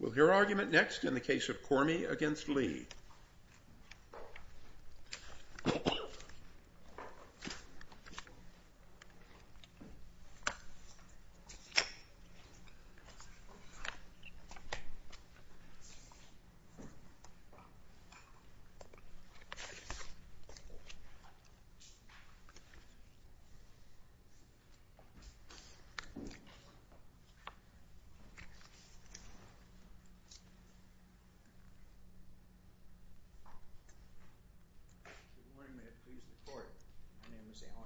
Will hear argument next in the case of Kormi v. Lee.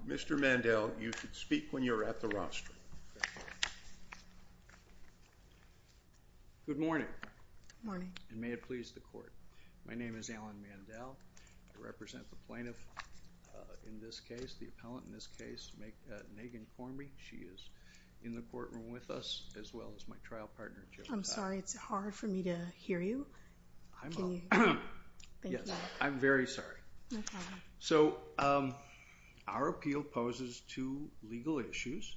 Mr. Mandel, you should speak when you're at the rostrum. Good morning. Good morning. And may it please the court. My name is Alan Mandel. I represent the plaintiff in this case, the appellant in this case, Megan Kormi. She is in the courtroom with us as well as my trial partner, Jill. I'm sorry. It's hard for me to hear you. I'm very sorry. So our appeal poses two legal issues,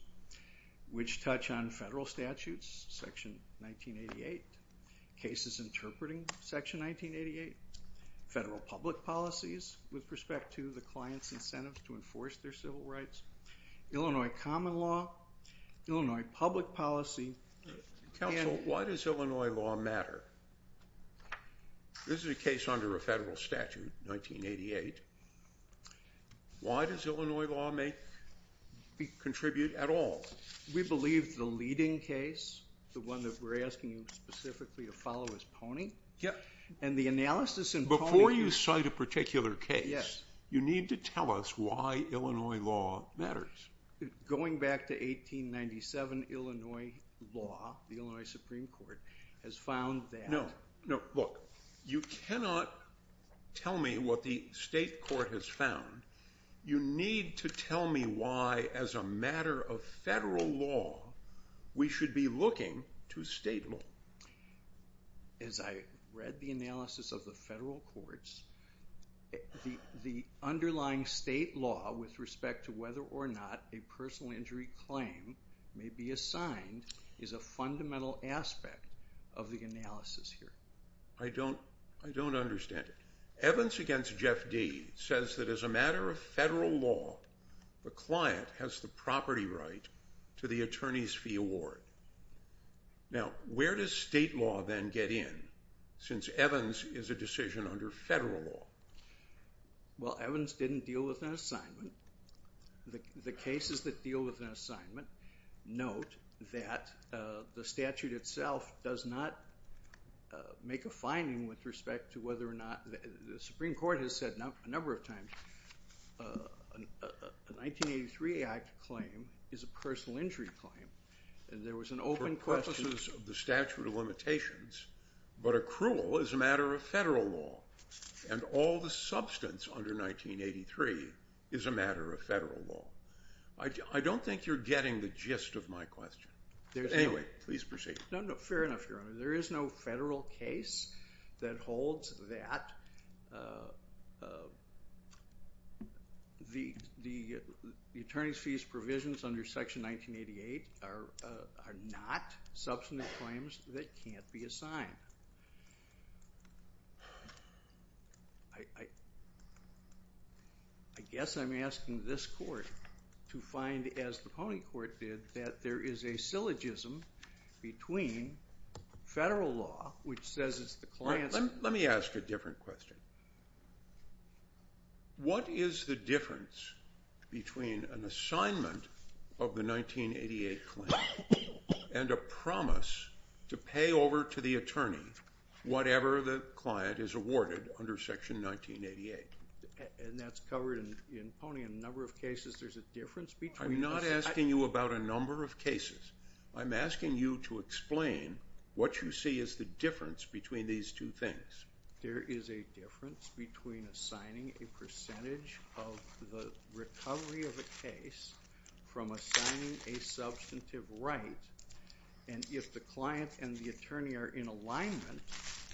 which touch on federal statutes, section 1988, cases interpreting section 1988, federal public policies with respect to the client's incentive to enforce their civil rights, Illinois common law, Illinois public policy. Counsel, why does Illinois law matter? This is a case under a federal statute, 1988. Why does Illinois law contribute at all? We believe the leading case, the one that we're asking you specifically to follow, is And the analysis in Pony- matters. Going back to 1897, Illinois law, the Illinois Supreme Court has found that No, no. Look, you cannot tell me what the state court has found. You need to tell me why, as a matter of federal law, we should be looking to state law. As I read the analysis of the federal courts, the underlying state law with respect to whether or not a personal injury claim may be assigned is a fundamental aspect of the analysis here. I don't understand it. Evans against Jeff Deeds says that as a matter of federal law, the client has the property right to the attorney's fee award. Now, where does state law then get in, since Evans is a decision under federal law? Well, Evans didn't deal with an assignment. The cases that deal with an assignment, note that the statute itself does not make a finding with respect to whether or not, the Supreme Court has said a number of times, a 1983 Act claim is a personal injury claim. There was an open question- For purposes of the statute of limitations, but accrual is a matter of federal law, and all the substance under 1983 is a matter of federal law. I don't think you're getting the gist of my question. Anyway, please proceed. No, no, fair enough, Your Honor. There is no federal case that holds that the attorney's fees provisions under Section 1988 are not substantive claims that can't be assigned. I guess I'm asking this court to find, as the Pony Court did, that there is a syllogism between federal law, which says it's the client's- Let me ask a different question. What is the difference between an assignment of the 1988 claim and a promise to pay over to the attorney whatever the client is awarded under Section 1988? And that's covered in Pony in a number of cases, there's a difference between- I'm not asking you about a number of cases. I'm asking you to explain what you see is the difference between these two things. There is a difference between assigning a percentage of the recovery of a case from assigning a substantive right, and if the client and the attorney are in alignment,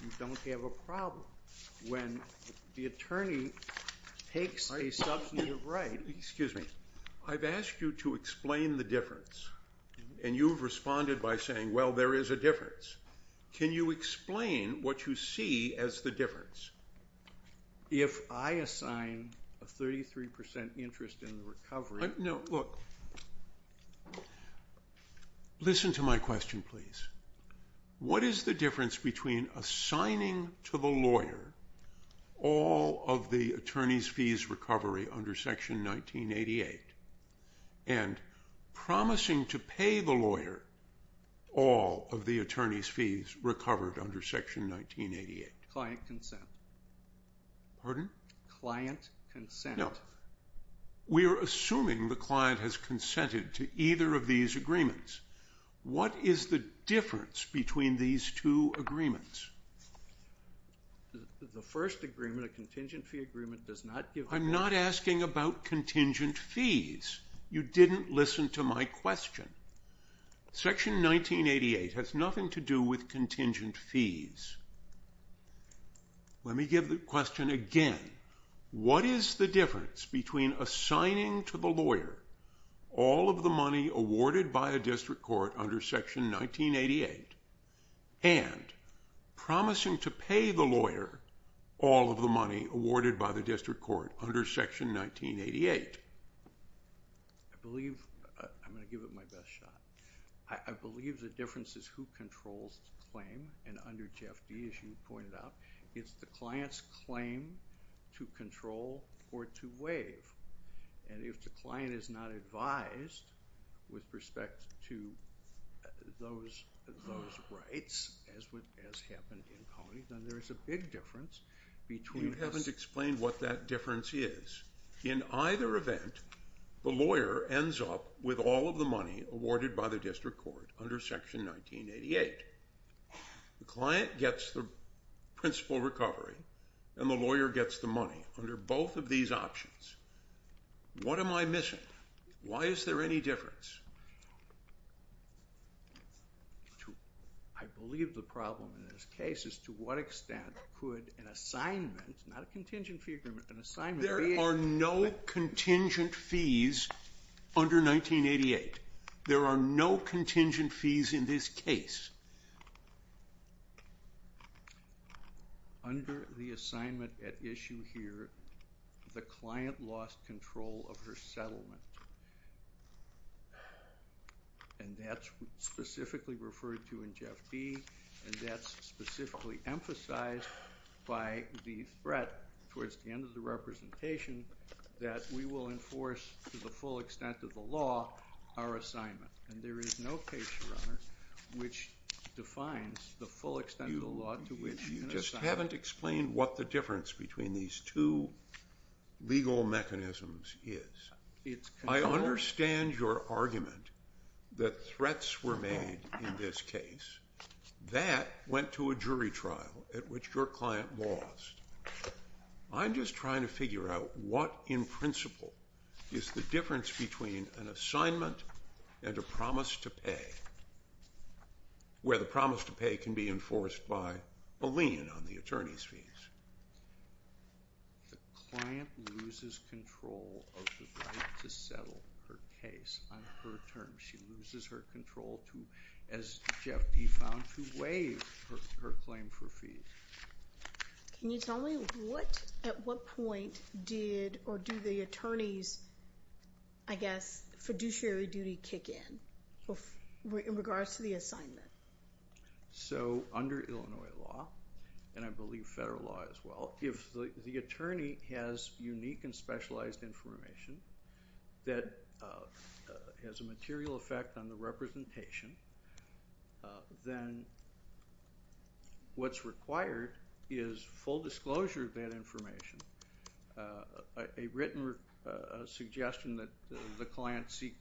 you don't have a problem. When the attorney takes a substantive right- And you've responded by saying, well, there is a difference. Can you explain what you see as the difference? If I assign a 33% interest in the recovery- No, look. Listen to my question, please. What is the difference between assigning to the lawyer all of the attorney's fees recovery under Section 1988 and promising to pay the lawyer all of the attorney's fees recovered under Section 1988? Client consent. Pardon? Client consent. No. We are assuming the client has consented to either of these agreements. What is the difference between these two agreements? The first agreement, a contingent fee agreement, does not give- I'm not asking about contingent fees. You didn't listen to my question. Section 1988 has nothing to do with contingent fees. Let me give the question again. What is the difference between assigning to the lawyer all of the money awarded by a district court under Section 1988 and promising to pay the lawyer all of the money awarded by the district court under Section 1988? I believe- I'm going to give it my best shot. I believe the difference is who controls the claim, and under JFD, as you pointed out, it's the client's claim to control or to waive. And if the client is not advised with respect to those rights, as happened in Pony, then there is a big difference between- You haven't explained what that difference is. In either event, the lawyer ends up with all of the money awarded by the district court under Section 1988. The client gets the principal recovery, and the lawyer gets the money under both of these options. What am I missing? Why is there any difference? I believe the problem in this case is to what extent could an assignment- not a contingent fee agreement- an assignment- There are no contingent fees under 1988. There are no contingent fees in this case. Under the assignment at issue here, the client lost control of her settlement. And that's specifically referred to in JFD, and that's specifically emphasized by the threat towards the end of the representation that we will enforce, to the full extent of the law, our assignment. And there is no case, Your Honor, which defines the full extent of the law to which an assignment- You just haven't explained what the difference between these two legal mechanisms is. I understand your argument that threats were made in this case. That went to a jury trial at which your client lost. I'm just trying to figure out what, in principle, is the difference between an assignment and a promise to pay, where the promise to pay can be enforced by a lien on the attorney's fees. The client loses control of her right to settle her case on her terms. She loses her control to, as JFD found, to waive her claim for fees. Can you tell me at what point did or do the attorney's, I guess, fiduciary duty kick in, in regards to the assignment? So, under Illinois law, and I believe federal law as well, if the attorney has unique and specialized information that has a material effect on the representation, then what's required is full disclosure of that information, a written suggestion that the client seek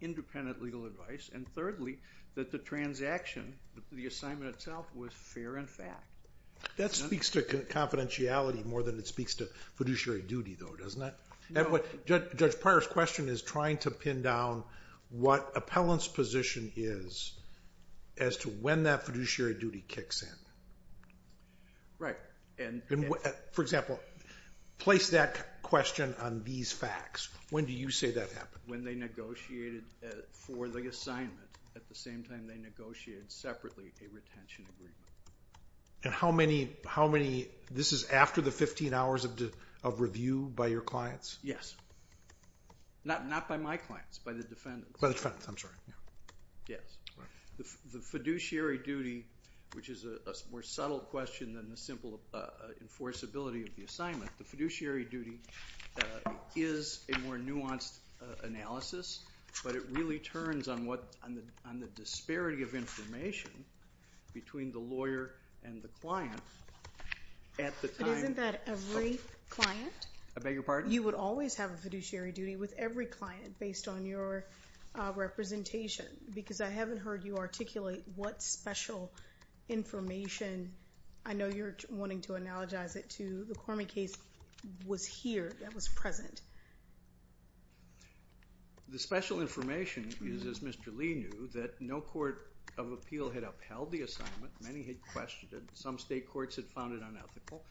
independent legal advice, and thirdly, that the transaction, the assignment itself, was fair in fact. That speaks to confidentiality more than it speaks to fiduciary duty, though, doesn't it? Judge Pryor's question is trying to pin down what appellant's position is as to when that fiduciary duty kicks in. Right. For example, place that question on these facts. When do you say that happened? When they negotiated for the assignment. At the same time, they negotiated separately a retention agreement. And how many, this is after the 15 hours of review by your clients? Yes. Not by my clients, by the defendants. By the defendants, I'm sorry. Yes. Right. The fiduciary duty, which is a more subtle question than the simple enforceability of the assignment, the fiduciary duty is a more nuanced analysis, but it really turns on the disparity of information between the lawyer and the client at the time. But isn't that every client? I beg your pardon? You would always have a fiduciary duty with every client based on your representation because I haven't heard you articulate what special information. I know you're wanting to analogize it to the Cormie case was here, that was present. The special information is, as Mr. Lee knew, that no court of appeal had upheld the assignment. Many had questioned it. Some state courts had found it unethical.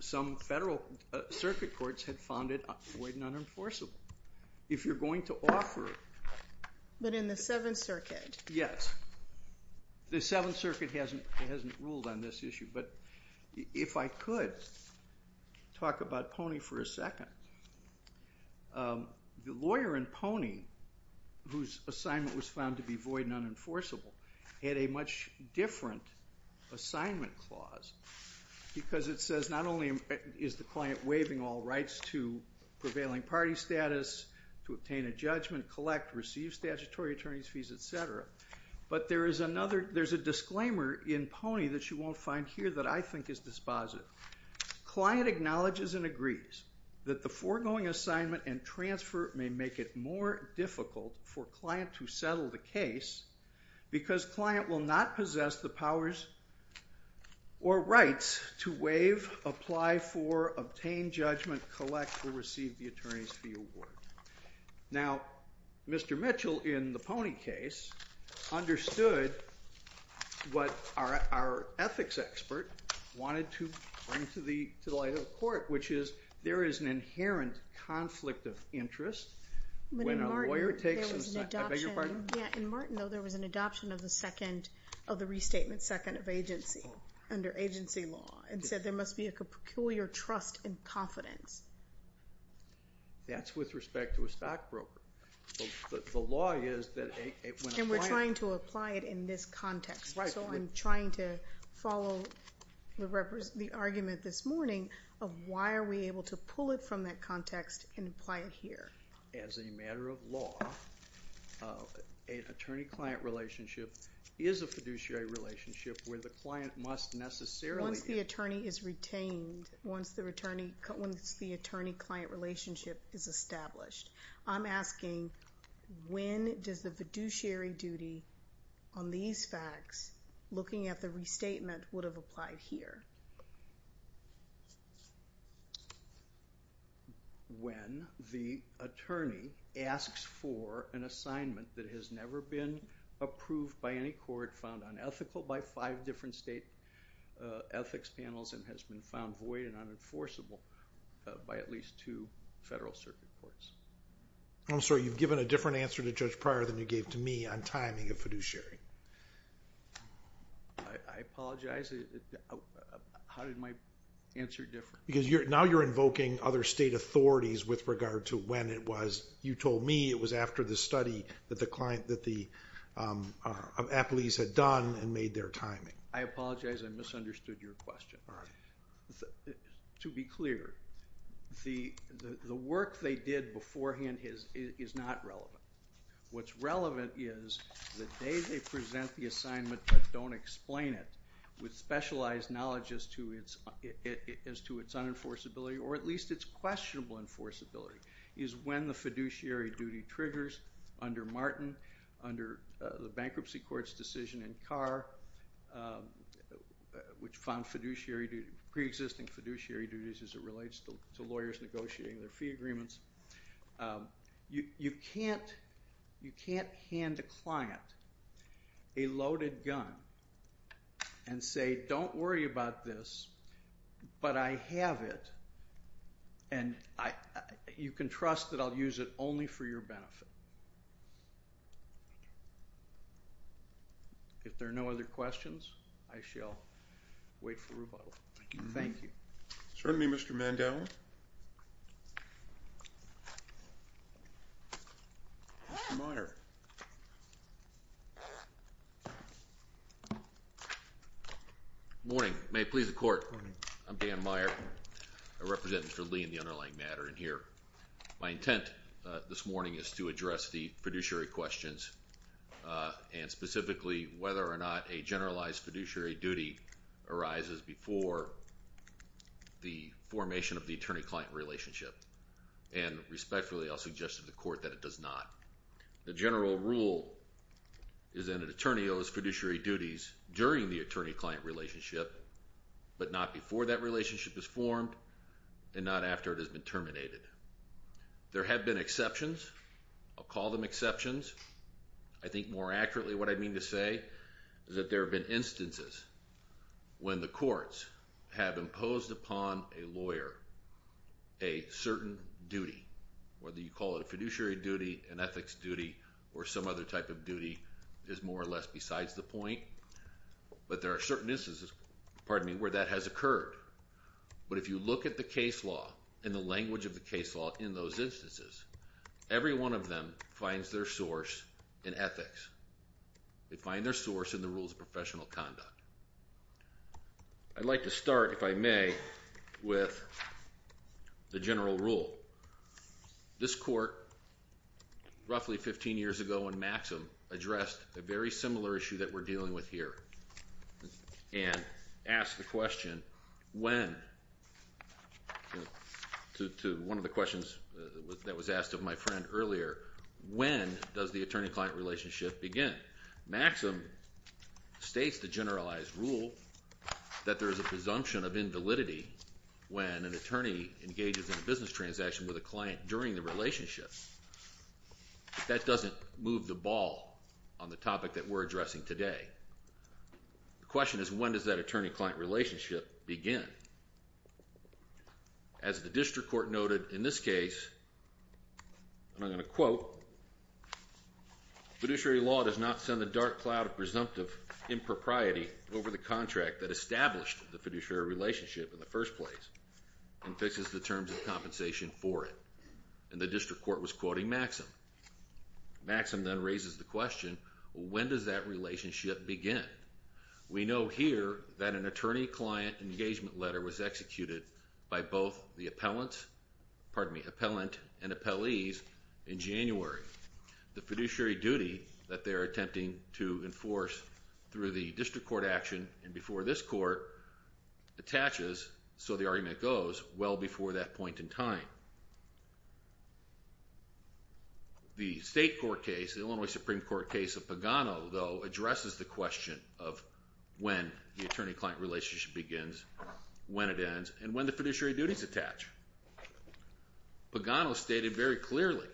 Some federal circuit courts had found it void and unenforceable. If you're going to offer it. But in the Seventh Circuit. Yes. The Seventh Circuit hasn't ruled on this issue. If I could talk about Pony for a second. The lawyer in Pony, whose assignment was found to be void and unenforceable, had a much different assignment clause because it says not only is the client waiving all rights to prevailing party status, to obtain a judgment, collect, receive statutory attorney's fees, et cetera, but there's a disclaimer in Pony that you won't find here that I think is dispositive. Client acknowledges and agrees that the foregoing assignment and transfer may make it more difficult for client to settle the case because client will not possess the powers or rights to waive, apply for, obtain judgment, collect, or receive the attorney's fee award. Now, Mr. Mitchell in the Pony case understood what our ethics expert wanted to bring to the light of the court, which is there is an inherent conflict of interest when a lawyer takes an assignment. I beg your pardon? Yeah, in Martin, though, there was an adoption of the second, of the restatement second of agency under agency law and said there must be a peculiar trust and confidence. That's with respect to a stockbroker. The law is that when a client... And we're trying to apply it in this context. Right. So I'm trying to follow the argument this morning of why are we able to pull it from that context and apply it here. As a matter of law, an attorney-client relationship is a fiduciary relationship where the client must necessarily... Once the attorney is retained, once the attorney-client relationship is established. I'm asking when does the fiduciary duty on these facts, looking at the restatement, would have applied here? When the attorney asks for an assignment that has never been approved by any court, or found unethical by five different state ethics panels, and has been found void and unenforceable by at least two federal circuit courts. I'm sorry. You've given a different answer to Judge Pryor than you gave to me on timing of fiduciary. I apologize. How did my answer differ? Because now you're invoking other state authorities with regard to when it was. You told me it was after the study that the appellees had done and made their timing. I apologize. I misunderstood your question. To be clear, the work they did beforehand is not relevant. What's relevant is the day they present the assignment but don't explain it with specialized knowledge as to its unenforceability, or at least its questionable enforceability, is when the fiduciary duty triggers under Martin, under the bankruptcy court's decision in Carr, which found preexisting fiduciary duties as it relates to lawyers negotiating their fee agreements. You can't hand a client a loaded gun and say, don't worry about this, but I have it, and you can trust that I'll use it only for your benefit. If there are no other questions, I shall wait for rebuttal. Thank you. Certainly, Mr. Mandel. Mr. Meyer. Good morning. May it please the Court. Good morning. I'm Dan Meyer, a representative for Lee in the underlying matter in here. My intent this morning is to address the fiduciary questions and specifically whether or not a generalized fiduciary duty arises before the formation of the attorney-client relationship. And respectfully, I'll suggest to the Court that it does not. The general rule is that an attorney owes fiduciary duties during the attorney-client relationship but not before that relationship is formed and not after it has been terminated. There have been exceptions. I'll call them exceptions. I think more accurately what I mean to say is that there have been instances when the courts have imposed upon a lawyer a certain duty, whether you call it a fiduciary duty, an ethics duty, or some other type of duty is more or less besides the point. But there are certain instances, pardon me, where that has occurred. But if you look at the case law and the language of the case law in those instances, every one of them finds their source in ethics. They find their source in the rules of professional conduct. I'd like to start, if I may, with the general rule. This court roughly 15 years ago in Maxim addressed a very similar issue that we're dealing with here and asked the question, when to one of the questions that was asked of my friend earlier, when does the attorney-client relationship begin? Maxim states the generalized rule that there is a presumption of invalidity when an attorney engages in a business transaction with a client during the relationship. That doesn't move the ball on the topic that we're addressing today. The question is when does that attorney-client relationship begin? As the district court noted in this case, and I'm going to quote, fiduciary law does not send a dark cloud of presumptive impropriety over the contract that established the fiduciary relationship in the first place and fixes the terms of compensation for it. And the district court was quoting Maxim. Maxim then raises the question, when does that relationship begin? We know here that an attorney-client engagement letter was executed by both the appellant and appellees in January. The fiduciary duty that they're attempting to enforce through the district court action and before this court attaches, so the argument goes, well before that point in time. The state court case, the Illinois Supreme Court case of Pagano, though, addresses the question of when the attorney-client relationship begins, when it ends, and when the fiduciary duties attach. Pagano stated very clearly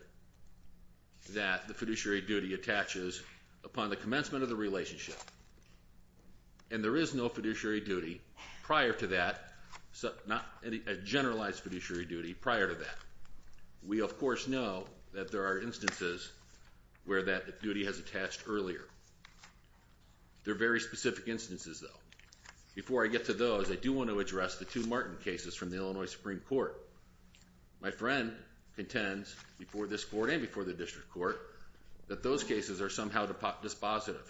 that the fiduciary duty attaches upon the commencement of the relationship, and there is no fiduciary duty prior to that, not a generalized fiduciary duty prior to that. We, of course, know that there are instances where that duty has attached earlier. They're very specific instances, though. Before I get to those, I do want to address the two Martin cases from the Illinois Supreme Court. My friend contends before this court and before the district court that those cases are somehow dispositive.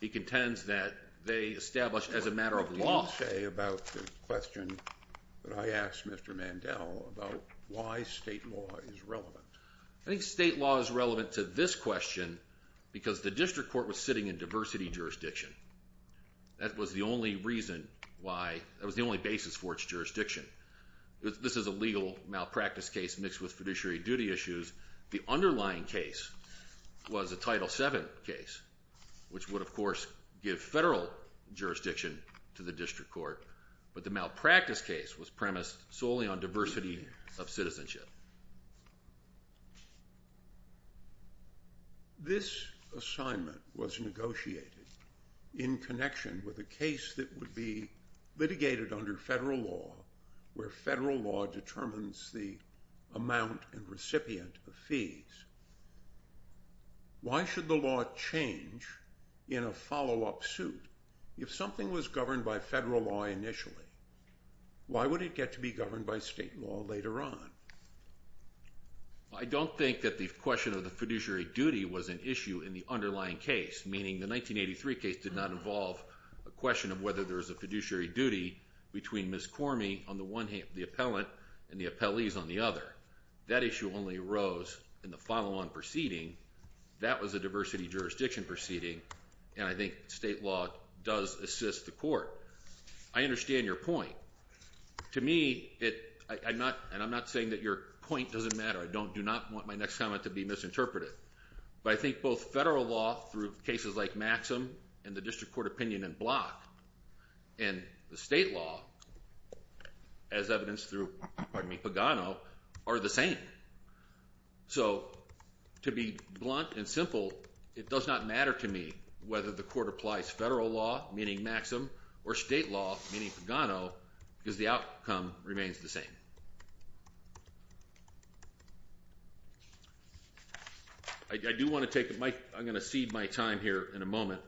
He contends that they establish as a matter of law. What did you say about the question that I asked Mr. Mandel about why state law is relevant? I think state law is relevant to this question because the district court was sitting in diversity jurisdiction. That was the only basis for its jurisdiction. This is a legal malpractice case mixed with fiduciary duty issues. The underlying case was a Title VII case, which would, of course, give federal jurisdiction to the district court, but the malpractice case was premised solely on diversity of citizenship. This assignment was negotiated in connection with a case that would be litigated under federal law where federal law determines the amount and recipient of fees. Why should the law change in a follow-up suit? If something was governed by federal law initially, why would it get to be governed by state law later on? I don't think that the question of the fiduciary duty was an issue in the underlying case, meaning the 1983 case did not involve a question of whether there was a fiduciary duty between Ms. Cormie on the one hand, the appellant, and the appellees on the other. That issue only arose in the follow-on proceeding. That was a diversity jurisdiction proceeding, and I think state law does assist the court. I understand your point. To me, and I'm not saying that your point doesn't matter. I do not want my next comment to be misinterpreted, but I think both federal law through cases like Maxim and the district court opinion in Block and the state law as evidenced through Pagano are the same. So to be blunt and simple, it does not matter to me whether the court applies federal law, meaning Maxim, or state law, meaning Pagano, because the outcome remains the same. I do want to take a mic. I'm going to cede my time here in a moment.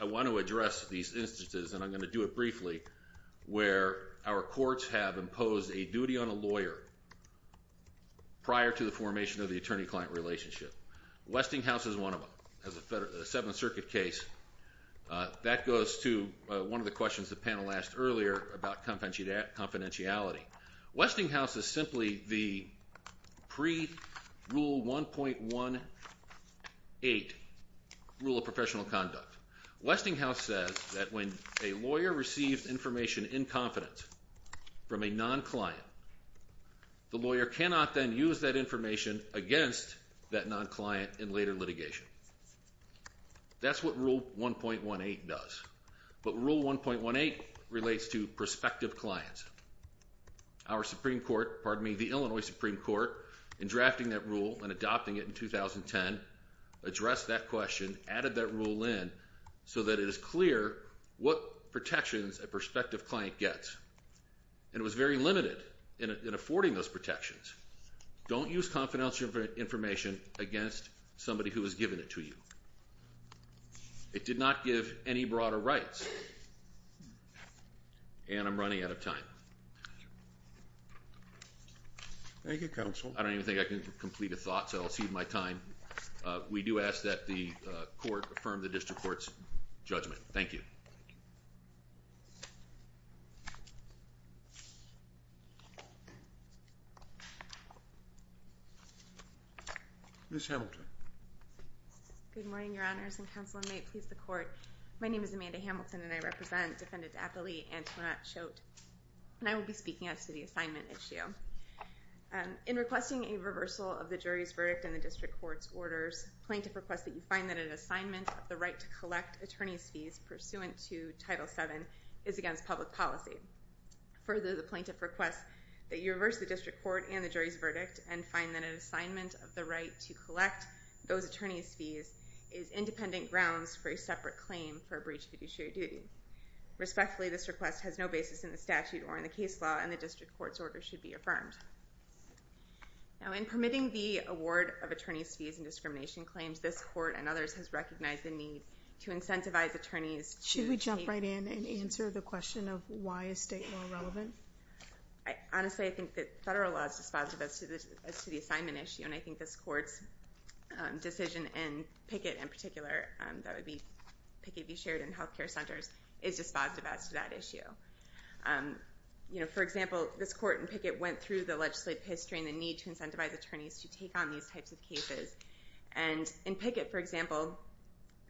I want to address these instances, and I'm going to do it briefly, where our courts have imposed a duty on a lawyer prior to the formation of the attorney-client relationship. Westinghouse is one of them. It's a Seventh Circuit case. That goes to one of the questions the panel asked earlier about confidentiality. Westinghouse is simply the pre-Rule 1.18 rule of professional conduct. Westinghouse says that when a lawyer receives information in confidence from a non-client, the lawyer cannot then use that information against that non-client in later litigation. That's what Rule 1.18 does. But Rule 1.18 relates to prospective clients. Our Supreme Court, pardon me, the Illinois Supreme Court, in drafting that rule and adopting it in 2010, addressed that question, added that rule in so that it is clear what protections a prospective client gets. And it was very limited in affording those protections. Don't use confidential information against somebody who has given it to you. It did not give any broader rights. And I'm running out of time. Thank you, counsel. I don't even think I can complete a thought, so I'll cede my time. We do ask that the court affirm the district court's judgment. Thank you. Ms. Hamilton. Good morning, Your Honors. And counsel, may it please the court, my name is Amanda Hamilton and I represent Defendant Aptly Antoinette Schott. And I will be speaking as to the assignment issue. In requesting a reversal of the jury's verdict in the district court's orders, plaintiff requests that you find that an assignment of the right to collect attorney's fees pursuant to Title VII is against public policy. Further, the plaintiff requests that you reverse the district court and the jury's verdict and find that an assignment of the right to collect those attorney's fees is independent grounds for a separate claim for a breach of fiduciary duty. Respectfully, this request has no basis in the statute or in the case law and the district court's order should be affirmed. Now, in permitting the award of attorney's fees and discrimination claims, this court and others has recognized the need to incentivize attorneys to Should we jump right in and answer the question of why is state law relevant? Honestly, I think that federal law is dispositive as to the assignment issue and I think this court's decision in Pickett in particular, that would be Pickett be shared in health care centers, is dispositive as to that issue. For example, this court in Pickett went through the legislative history and the need to incentivize attorneys to take on these types of cases. And in Pickett, for example,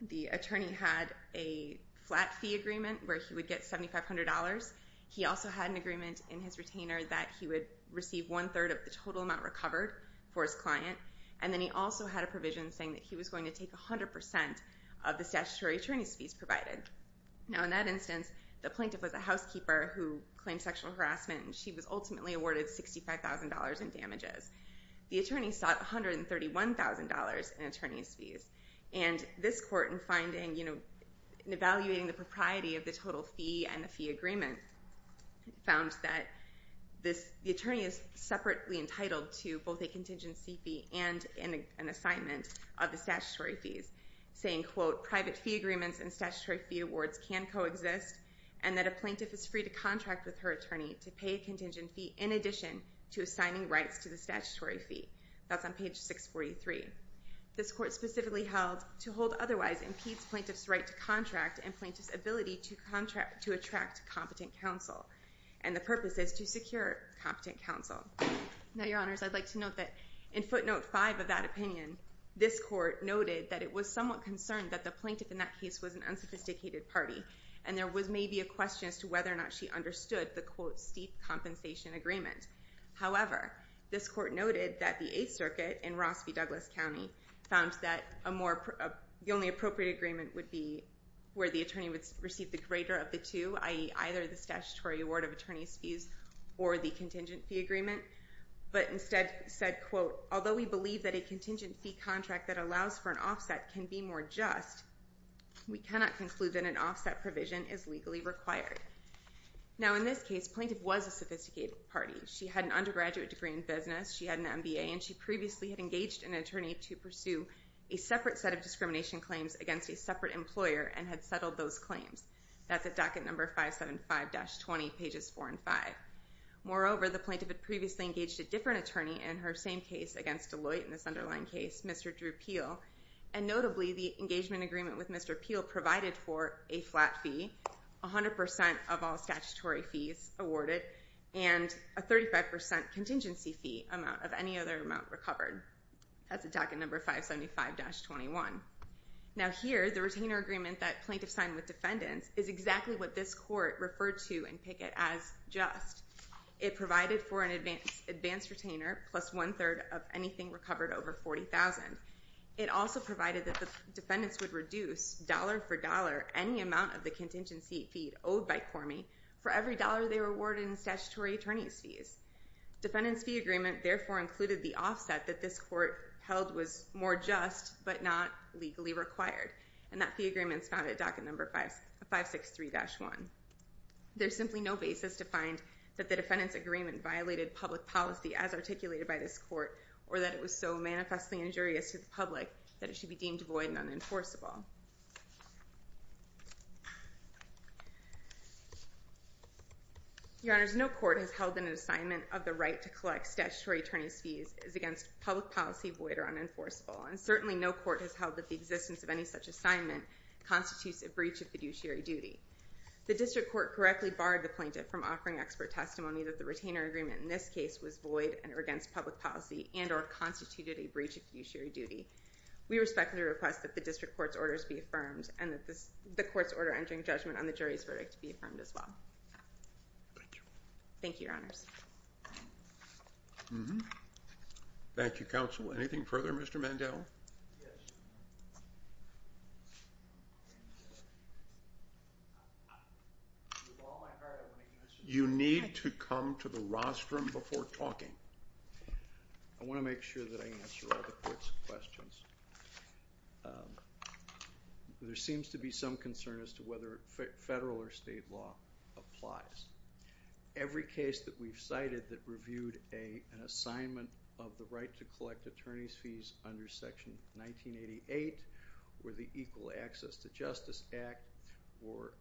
the attorney had a flat fee agreement where he would get $7,500. He also had an agreement in his retainer that he would receive one-third of the total amount recovered for his client. And then he also had a provision saying that he was going to take 100% of the statutory attorney's fees provided. Now, in that instance, the plaintiff was a housekeeper who claimed sexual harassment and she was ultimately awarded $65,000 in damages. The attorney sought $131,000 in attorney's fees. And this court, in finding, you know, in evaluating the propriety of the total fee and the fee agreement, found that the attorney is separately entitled to both a contingency fee and an assignment of the statutory fees, saying, quote, private fee agreements and statutory fee awards can coexist and that a plaintiff is free to contract with her attorney to pay a contingent fee in addition to assigning rights to the statutory fee. That's on page 643. This court specifically held to hold otherwise impedes plaintiff's right to contract and plaintiff's ability to attract competent counsel. And the purpose is to secure competent counsel. Now, Your Honors, I'd like to note that in footnote 5 of that opinion, this court noted that it was somewhat concerned that the plaintiff in that case was an unsophisticated party and there was maybe a question as to whether or not she understood the, quote, steep compensation agreement. However, this court noted that the Eighth Circuit in Rossby, Douglas County, found that the only appropriate agreement would be where the attorney would receive the greater of the two, i.e. either the statutory award of attorney's fees or the contingent fee agreement, but instead said, quote, although we believe that a contingent fee contract that allows for an offset can be more just, we cannot conclude that an offset provision is legally required. Now, in this case, plaintiff was a sophisticated party. She had an undergraduate degree in business, she had an MBA, and she previously had engaged an attorney to pursue a separate set of discrimination claims against a separate employer and had settled those claims. That's at docket number 575-20, pages 4 and 5. Moreover, the plaintiff had previously engaged a different attorney in her same case against Deloitte in this underlying case, Mr. Drew Peel, and notably the engagement agreement with Mr. Peel provided for a flat fee, 100% of all statutory fees awarded, and a 35% contingency fee amount of any other amount recovered. That's at docket number 575-21. Now here, the retainer agreement that plaintiff signed with defendants is exactly what this court referred to in Pickett as just. It provided for an advanced retainer plus one-third of anything recovered over $40,000. It also provided that the defendants would reduce dollar for dollar any amount of the contingency fee owed by Cormie for every dollar they were awarded in statutory attorney's fees. Defendants' fee agreement therefore included the offset that this court held was more just but not legally required, and that fee agreement is found at docket number 563-1. There's simply no basis to find that the defendants' agreement violated public policy as articulated by this court or that it was so manifestly injurious to the public that it should be deemed void and unenforceable. Your Honors, no court has held that an assignment of the right to collect statutory attorney's fees is against public policy, void, or unenforceable, and certainly no court has held that the existence of any such assignment constitutes a breach of fiduciary duty. The district court correctly barred the plaintiff from offering expert testimony that the retainer agreement in this case was void and against public policy and or constituted a breach of fiduciary duty. We respectfully request that the district court's orders be affirmed and that the court's order entering judgment on the jury's verdict be affirmed as well. Thank you. Thank you, Your Honors. Mm-hmm. Thank you, Counsel. Anything further, Mr. Mandel? You need to come to the rostrum before talking. I want to make sure that I answer all the court's questions. There seems to be some concern as to whether federal or state law applies. Every case that we've cited that reviewed an assignment of the right to collect attorney's fees under Section 1988 or the Equal Access to Justice Act or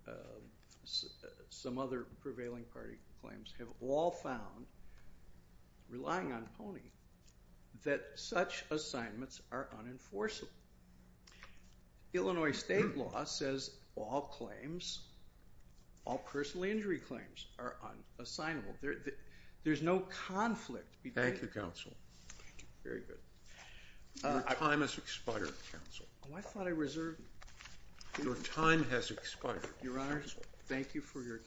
some other prevailing party claims have all found, relying on PONY, that such assignments are unenforceable. Illinois state law says all claims, all personal injury claims, are unassignable. There's no conflict. Thank you, Counsel. Thank you. Very good. Your time has expired, Counsel. Oh, I thought I reserved. Your time has expired, Counsel. Your Honors, thank you for your time.